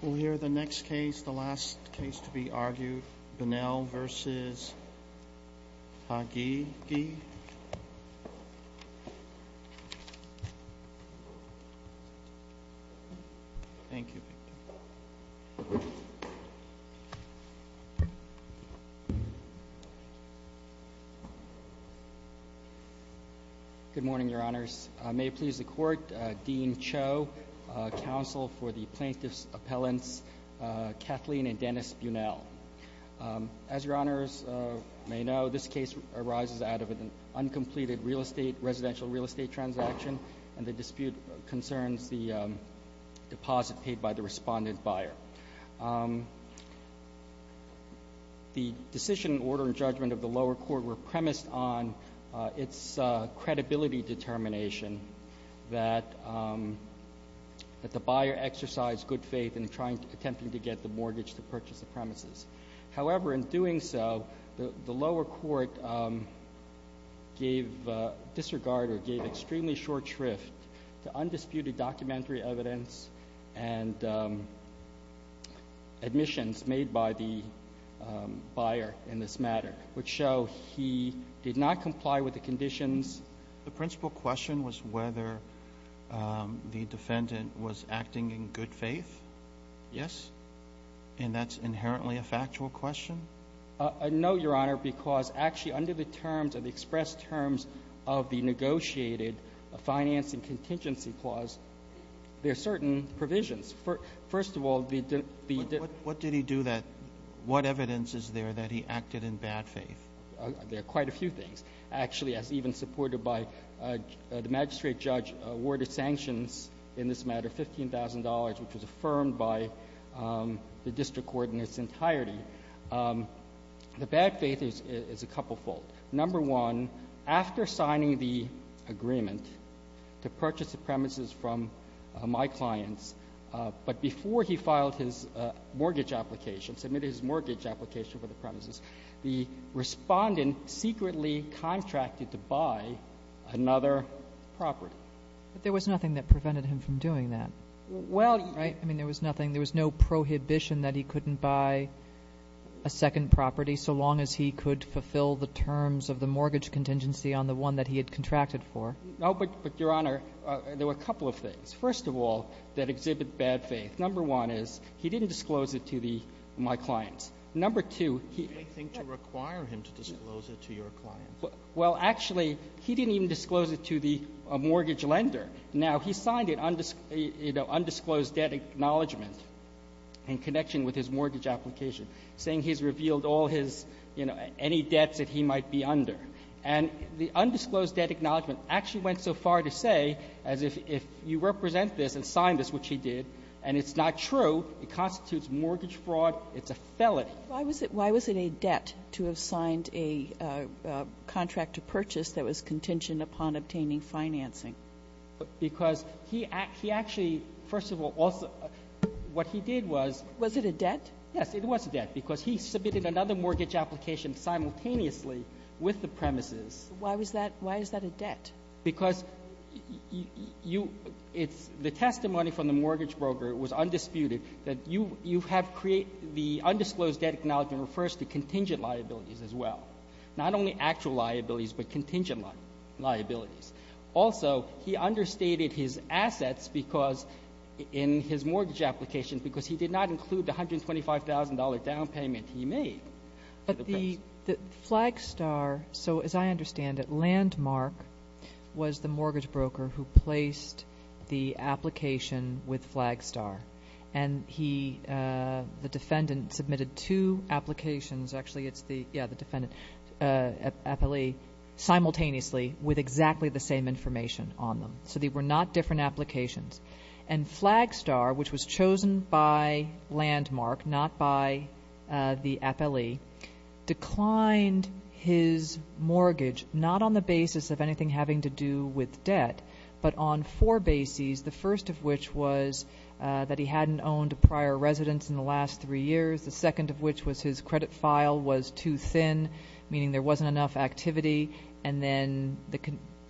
We'll hear the next case, the last case to be argued, Bunnell v. Haghighi. Thank you. Good morning, Your Honors. May it please the Court, Dean Cho, Counsel for the Plaintiffs' Appellants Kathleen and Dennis Bunnell. As Your Honors may know, this case arises out of an uncompleted residential real estate transaction and the dispute concerns the deposit paid by the respondent buyer. The decision, order, and judgment of the lower court were premised on its credibility determination that the buyer exercised good faith in attempting to get the mortgage to purchase the premises. However, in doing so, the lower court gave disregard or gave extremely short shrift to undisputed documentary evidence and admissions made by the buyer in this matter, which show he did not comply with the conditions. The principal question was whether the defendant was acting in good faith, yes? And that's inherently a factual question? No, Your Honor, because actually under the terms of the expressed terms of the negotiated financing contingency clause, there are certain provisions. First of all, the debt What did he do that, what evidence is there that he acted in bad faith? There are quite a few things. Actually, as even supported by the magistrate judge, awarded sanctions in this matter, $15,000, which was affirmed by the district court in its entirety. The bad faith is a couplefold. Number one, after signing the agreement to purchase the premises from my clients, but before he filed his mortgage application, submitted his mortgage application for the premises, the respondent contracted to buy another property. But there was nothing that prevented him from doing that, right? I mean, there was nothing, there was no prohibition that he couldn't buy a second property so long as he could fulfill the terms of the mortgage contingency on the one that he had contracted for. No, but Your Honor, there were a couple of things. First of all, that exhibit bad faith. Number one is, he didn't disclose it to my clients. Number two, he didn't disclose it to my clients. He didn't disclose it to my clients. He didn't even disclose it to the mortgage lender. Now, he signed it, you know, undisclosed debt acknowledgment in connection with his mortgage application, saying he's revealed all his, you know, any debts that he might be under. And the undisclosed debt acknowledgment actually went so far to say, as if you represent this and sign this, which he did, and it's not true, it constitutes mortgage fraud, it's a felony. But why was it a debt to have signed a contract to purchase that was contingent upon obtaining financing? Because he actually, first of all, also, what he did was. Was it a debt? Yes, it was a debt, because he submitted another mortgage application simultaneously with the premises. Why was that, why is that a debt? Because you, it's the testimony from the mortgage broker, it was undisputed, that you have created, the undisclosed debt acknowledgment refers to contingent liabilities as well. Not only actual liabilities, but contingent liabilities. Also, he understated his assets because, in his mortgage application, because he did not include the $125,000 down payment he made. But the Flagstar, so as I understand it, Landmark was the mortgage broker who placed the application with Flagstar. And he, the defendant, submitted two applications, actually, it's the, yeah, the defendant, FLE, simultaneously with exactly the same information on them. So they were not different applications. And Flagstar, which was chosen by Landmark, not by the FLE, declined his mortgage, not on the basis of anything having to do with debt, but on four bases. The first of which was that he hadn't owned a prior residence in the last three years. The second of which was his credit file was too thin, meaning there wasn't enough activity. And then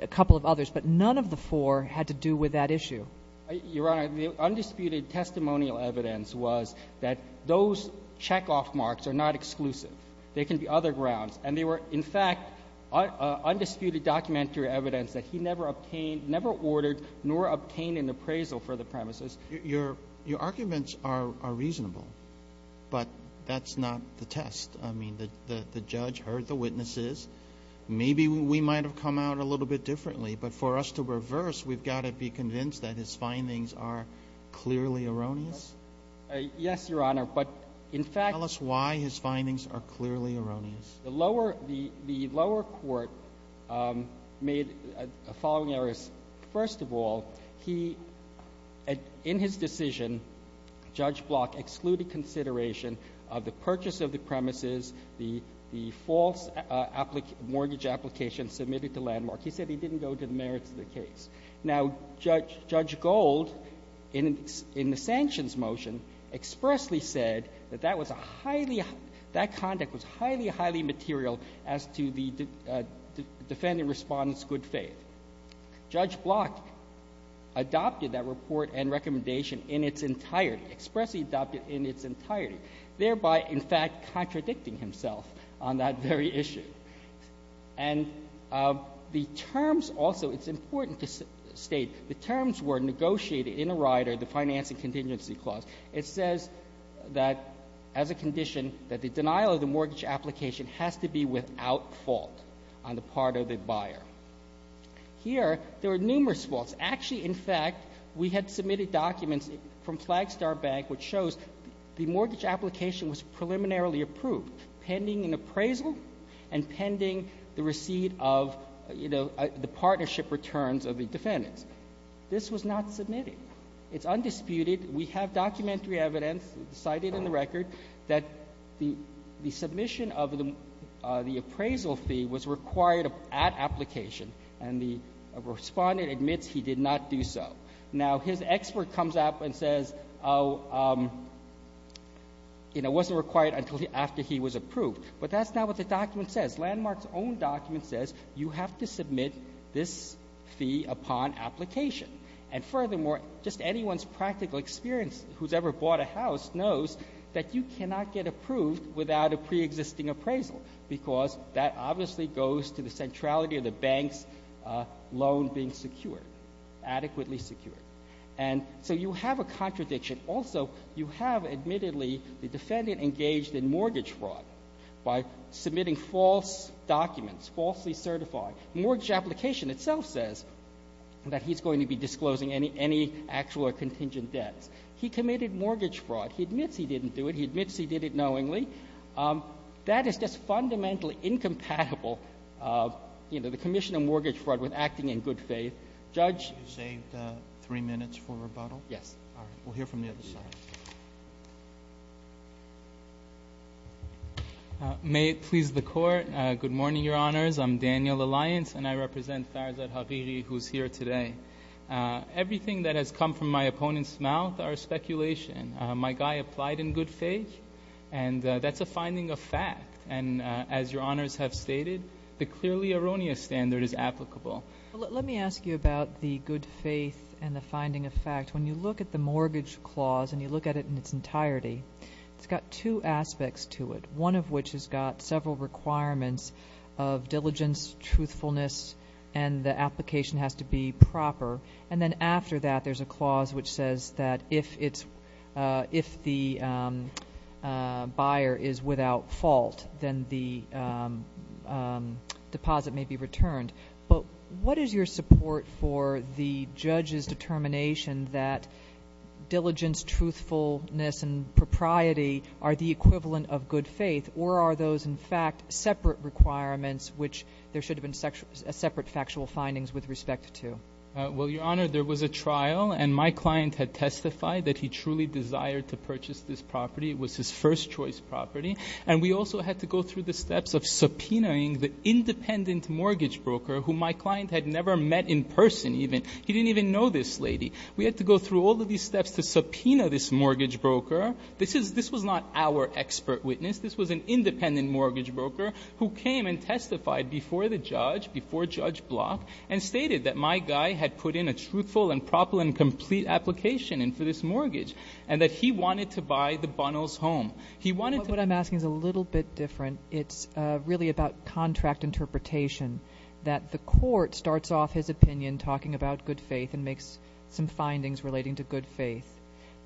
a couple of others. But none of the four had to do with that issue. Your Honor, the undisputed testimonial evidence was that those checkoff marks are not exclusive. They can be other grounds. And they were, in fact, undisputed documentary evidence that he never obtained, never ordered, nor obtained an appraisal for the premises. Your arguments are reasonable. But that's not the test. I mean, the judge heard the witnesses. Maybe we might have come out a little bit differently. But for us to reverse, we've got to be convinced that his findings are clearly erroneous? Yes, Your Honor. Tell us why his findings are clearly erroneous. The lower court made the following errors. First of all, he, in his decision, Judge Block excluded consideration of the purchase of the premises, the false mortgage application submitted to Landmark. He said he didn't go to the merits of the case. Now, Judge Gold, in the sanctions motion, expressly said that that was a highly – that conduct was highly, highly material as to the defendant respondent's good faith. Judge Block adopted that report and recommendation in its entirety, expressly adopted in its entirety, thereby, in fact, contradicting himself on that very issue. And the terms also, it's important to state, the terms were negotiated in a rider, the Finance and Contingency Clause. It says that, as a condition, that the denial of the mortgage application has to be without fault on the part of the buyer. Here, there are numerous faults. Actually, in fact, we had submitted documents from Flagstar Bank which shows the receipt of, you know, the partnership returns of the defendants. This was not submitted. It's undisputed. We have documentary evidence cited in the record that the submission of the appraisal fee was required at application, and the respondent admits he did not do so. Now, his expert comes up and says, you know, it wasn't required until after he was approved. But that's not what the document says. Landmark's own document says you have to submit this fee upon application. And furthermore, just anyone's practical experience who's ever bought a house knows that you cannot get approved without a preexisting appraisal, because that obviously goes to the centrality of the bank's loan being secure, adequately secure. And so you have a contradiction. Also, you have, admittedly, the defendant engaged in mortgage fraud by submitting false documents, falsely certified. The mortgage application itself says that he's going to be disclosing any actual or contingent debts. He committed mortgage fraud. He admits he didn't do it. He admits he did it knowingly. That is just fundamentally incompatible, you know, the commission of mortgage fraud with acting in good faith. Judge? You saved three minutes for rebuttal. Yes. All right. We'll hear from the other side. May it please the Court, good morning, Your Honors. I'm Daniel Alliance, and I represent Farzad Hariri, who's here today. Everything that has come from my opponent's mouth are speculation. My guy applied in good faith, and that's a finding of fact. And as Your Honors have stated, the clearly erroneous standard is applicable. Let me ask you about the good faith and the finding of fact. When you look at the mortgage clause and you look at it in its entirety, it's got two aspects to it, one of which has got several requirements of diligence, truthfulness, and the application has to be proper. And then after that, there's a clause which says that if the buyer is without fault, then the deposit may be returned. But what is your support for the judge's determination that diligence, truthfulness, and propriety are the equivalent of good faith, or are those, in fact, separate requirements, which there should have been separate factual findings with respect to? Well, Your Honor, there was a trial, and my client had testified that he truly desired to purchase this property. It was his first choice property. And we also had to go through the steps of subpoenaing the independent mortgage broker, who my client had never met in person even. He didn't even know this lady. We had to go through all of these steps to subpoena this mortgage broker. This was not our expert witness. This was an independent mortgage broker who came and testified before the judge, before Judge Block, and stated that my guy had put in a truthful and proper and complete application for this mortgage and that he wanted to buy the Bunnells home. What I'm asking is a little bit different. It's really about contract interpretation, that the court starts off his opinion talking about good faith and makes some findings relating to good faith.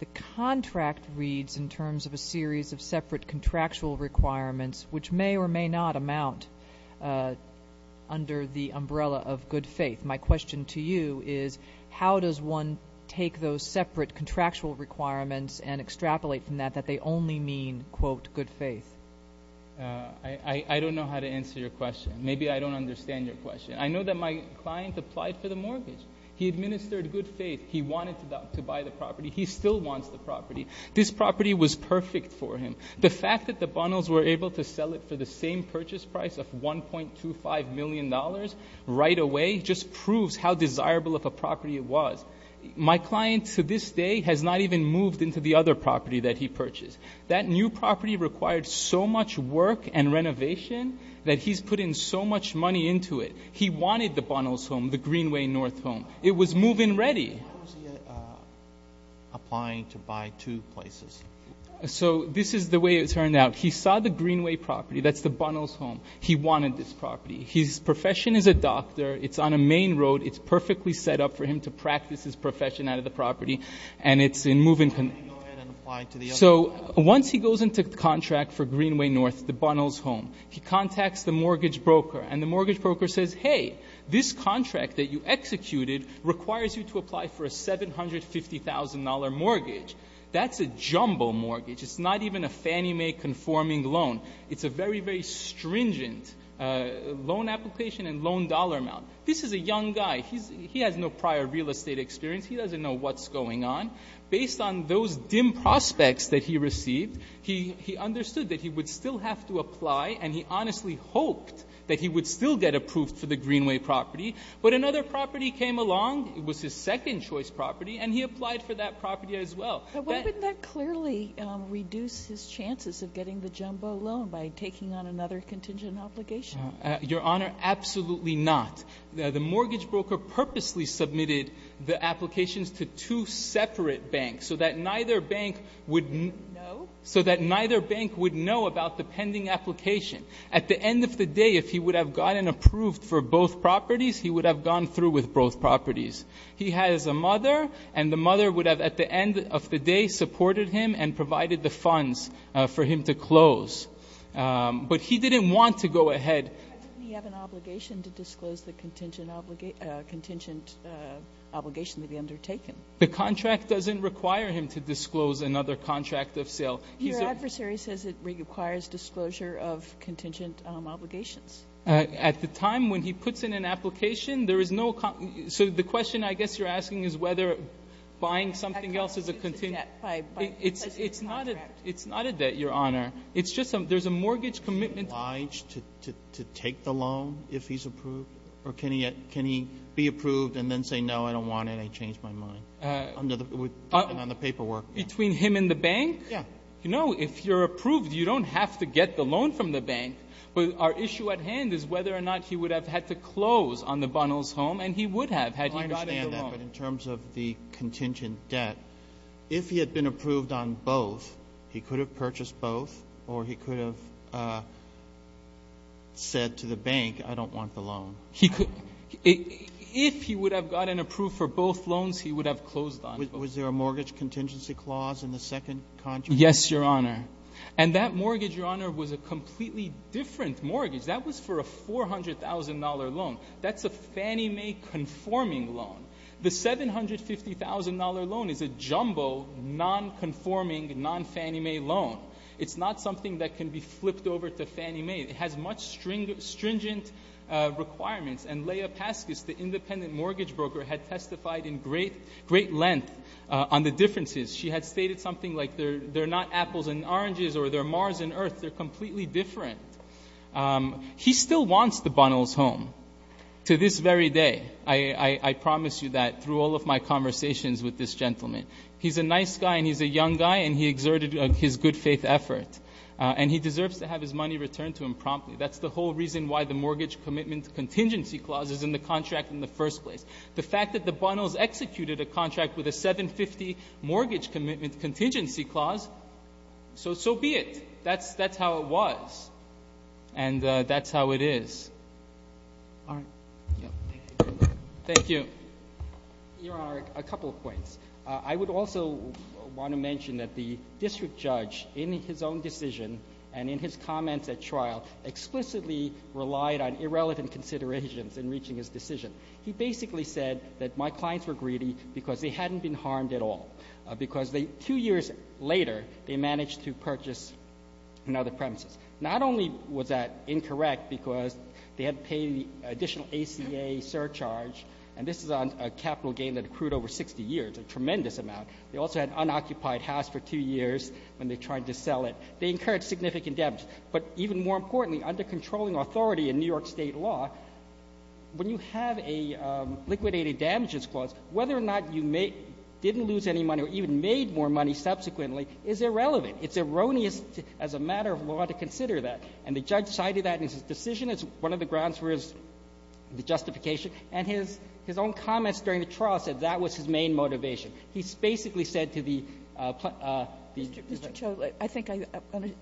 The contract reads in terms of a series of separate contractual requirements, which may or may not amount under the umbrella of good faith. My question to you is how does one take those separate contractual requirements and extrapolate from that that they only mean, quote, good faith? I don't know how to answer your question. Maybe I don't understand your question. I know that my client applied for the mortgage. He administered good faith. He wanted to buy the property. He still wants the property. This property was perfect for him. The fact that the Bunnells were able to sell it for the same purchase price of $1.25 million right away just proves how desirable of a property it was. My client to this day has not even moved into the other property that he purchased. That new property required so much work and renovation that he's put in so much money into it. He wanted the Bunnells home, the Greenway North home. It was move-in ready. How was he applying to buy two places? So this is the way it turned out. He saw the Greenway property. That's the Bunnells home. He wanted this property. His profession is a doctor. It's on a main road. It's perfectly set up for him to practice his profession out of the property. And it's in move-in condition. So once he goes into contract for Greenway North, the Bunnells home, he contacts the mortgage broker. And the mortgage broker says, hey, this contract that you executed requires you to apply for a $750,000 mortgage. That's a jumbo mortgage. It's not even a Fannie Mae conforming loan. It's a very, very stringent loan application and loan dollar amount. This is a young guy. He has no prior real estate experience. He doesn't know what's going on. Based on those dim prospects that he received, he understood that he would still have to apply, and he honestly hoped that he would still get approved for the Greenway property. But another property came along. It was his second-choice property, and he applied for that property as well. But wouldn't that clearly reduce his chances of getting the jumbo loan by taking on another contingent obligation? Your Honor, absolutely not. The mortgage broker purposely submitted the applications to two separate banks so that neither bank would know about the pending application. At the end of the day, if he would have gotten approved for both properties, he would have gone through with both properties. He has a mother, and the mother would have, at the end of the day, supported him and provided the funds for him to close. But he didn't want to go ahead. Doesn't he have an obligation to disclose the contingent obligation to be undertaken? The contract doesn't require him to disclose another contract of sale. Your adversary says it requires disclosure of contingent obligations. At the time when he puts in an application, there is no – so the question I guess you're asking is whether buying something else is a contingent. It's not a debt, Your Honor. It's just there's a mortgage commitment. Is he obliged to take the loan if he's approved? Or can he be approved and then say, no, I don't want it, I changed my mind on the paperwork? Between him and the bank? Yeah. You know, if you're approved, you don't have to get the loan from the bank. But our issue at hand is whether or not he would have had to close on the Bunnells home, and he would have had he gotten the loan. I understand that. But in terms of the contingent debt, if he had been approved on both, he could have purchased both or he could have said to the bank, I don't want the loan. He could – if he would have gotten approved for both loans, he would have closed on both. Was there a mortgage contingency clause in the second contract? Yes, Your Honor. And that mortgage, Your Honor, was a completely different mortgage. That was for a $400,000 loan. That's a Fannie Mae conforming loan. The $750,000 loan is a jumbo, non-conforming, non-Fannie Mae loan. It's not something that can be flipped over to Fannie Mae. It has much stringent requirements. And Leah Paskus, the independent mortgage broker, had testified in great length on the differences. She had stated something like they're not apples and oranges or they're Mars and Earth. They're completely different. He still wants the Bunnels home to this very day. I promise you that through all of my conversations with this gentleman. He's a nice guy and he's a young guy and he exerted his good faith effort. And he deserves to have his money returned to him promptly. That's the whole reason why the mortgage commitment contingency clause is in the contract in the first place. The fact that the Bunnels executed a contract with a $750,000 mortgage commitment contingency clause, so be it. That's how it was. And that's how it is. All right. Thank you. Your Honor, a couple of points. I would also want to mention that the district judge in his own decision and in his comments at trial explicitly relied on irrelevant considerations in reaching his decision. He basically said that my clients were greedy because they hadn't been harmed at all. Because two years later, they managed to purchase another premises. Not only was that incorrect because they had to pay additional ACA surcharge, and this is a capital gain that accrued over 60 years, a tremendous amount. They also had an unoccupied house for two years when they tried to sell it. They incurred significant damage. But even more importantly, under controlling authority in New York State law, when you have a liquidated damages clause, whether or not you didn't lose any money or even made more money subsequently is irrelevant. It's erroneous as a matter of law to consider that. And the judge cited that in his decision as one of the grounds for his justification, and his own comments during the trial said that was his main motivation. He basically said to the plot the district judge. Mr. Cho, I think I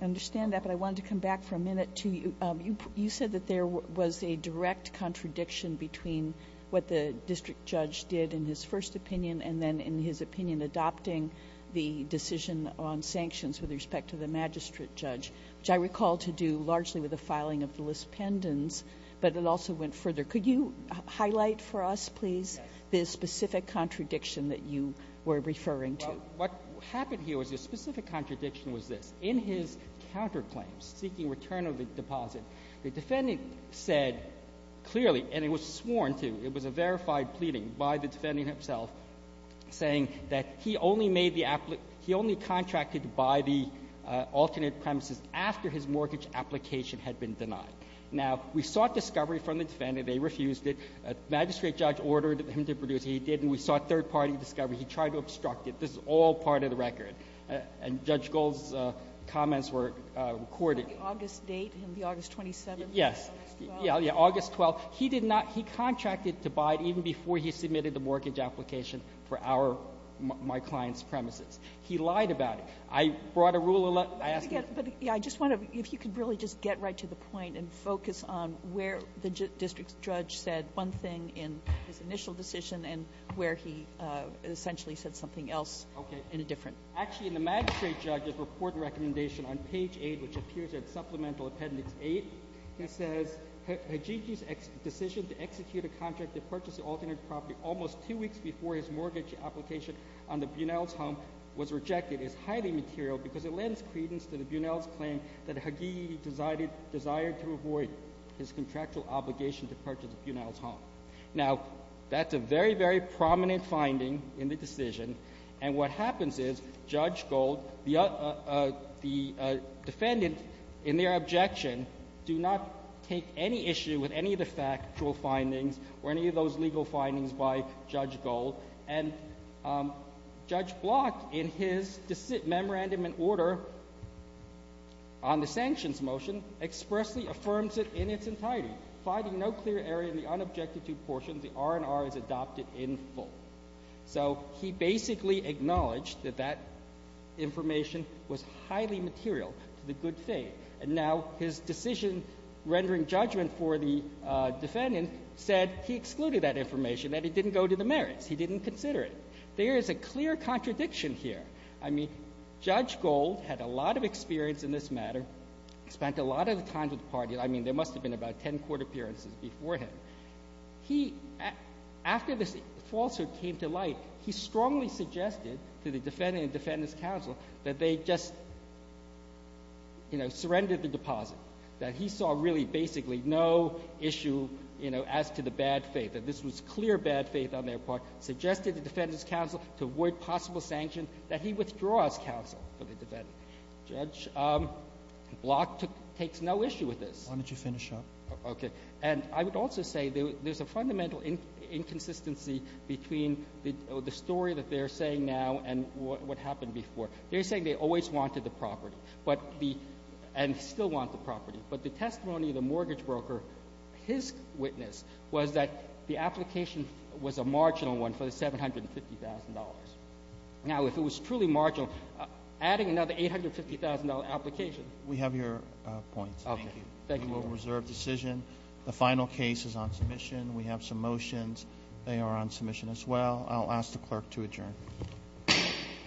understand that, but I wanted to come back for a minute to you. You said that there was a direct contradiction between what the district judge did in his first opinion and then in his opinion adopting the decision on sanctions with respect to the magistrate judge, which I recall to do largely with the filing of the list pendants, but it also went further. Could you highlight for us, please, the specific contradiction that you were referring to? Well, what happened here was the specific contradiction was this. In his counterclaims seeking return of the deposit, the defendant said clearly, and it was sworn to, it was a verified pleading by the defendant himself, saying that he only contracted to buy the alternate premises after his mortgage application had been denied. Now, we sought discovery from the defendant. They refused it. The magistrate judge ordered him to produce it. He didn't. We sought third-party discovery. He tried to obstruct it. This is all part of the record. And Judge Gold's comments were recorded. Was that the August date, the August 27th? August 12th. Yeah, August 12th. He did not — he contracted to buy it even before he submitted the mortgage application for our — my client's premises. He lied about it. I brought a rule — But I just want to — if you could really just get right to the point and focus on where the district judge said one thing in his initial decision and where he essentially said something else in a different action. Actually, in the magistrate judge's report and recommendation on page 8, which appears in Supplemental Appendix 8, it says, Now, that's a very, very prominent finding in the decision. And what happens is Judge Gold, the defendant, in their objection, do not take any issue with any of the factual findings or any of those legal findings by Judge Gold. And Judge Block, in his memorandum in order on the sanctions motion, expressly affirms it in its entirety. So he basically acknowledged that that information was highly material to the good faith. And now his decision rendering judgment for the defendant said he excluded that information, that it didn't go to the merits. He didn't consider it. There is a clear contradiction here. I mean, Judge Gold had a lot of experience in this matter, spent a lot of the time with the defendant at 10 court appearances before him. He, after this falsehood came to light, he strongly suggested to the defendant and defendant's counsel that they just, you know, surrender the deposit, that he saw really basically no issue, you know, as to the bad faith, that this was clear bad faith on their part, suggested the defendant's counsel to avoid possible sanctions, that he withdraw his counsel for the defendant. Judge Block takes no issue with this. Why don't you finish up? Okay. And I would also say there's a fundamental inconsistency between the story that they're saying now and what happened before. They're saying they always wanted the property, but the — and still want the property. But the testimony of the mortgage broker, his witness was that the application was a marginal one for the $750,000. Now, if it was truly marginal, adding another $850,000 application — We have your points. Thank you. We will reserve decision. The final case is on submission. We have some motions. They are on submission as well. I'll ask the clerk to adjourn. Court is adjourned.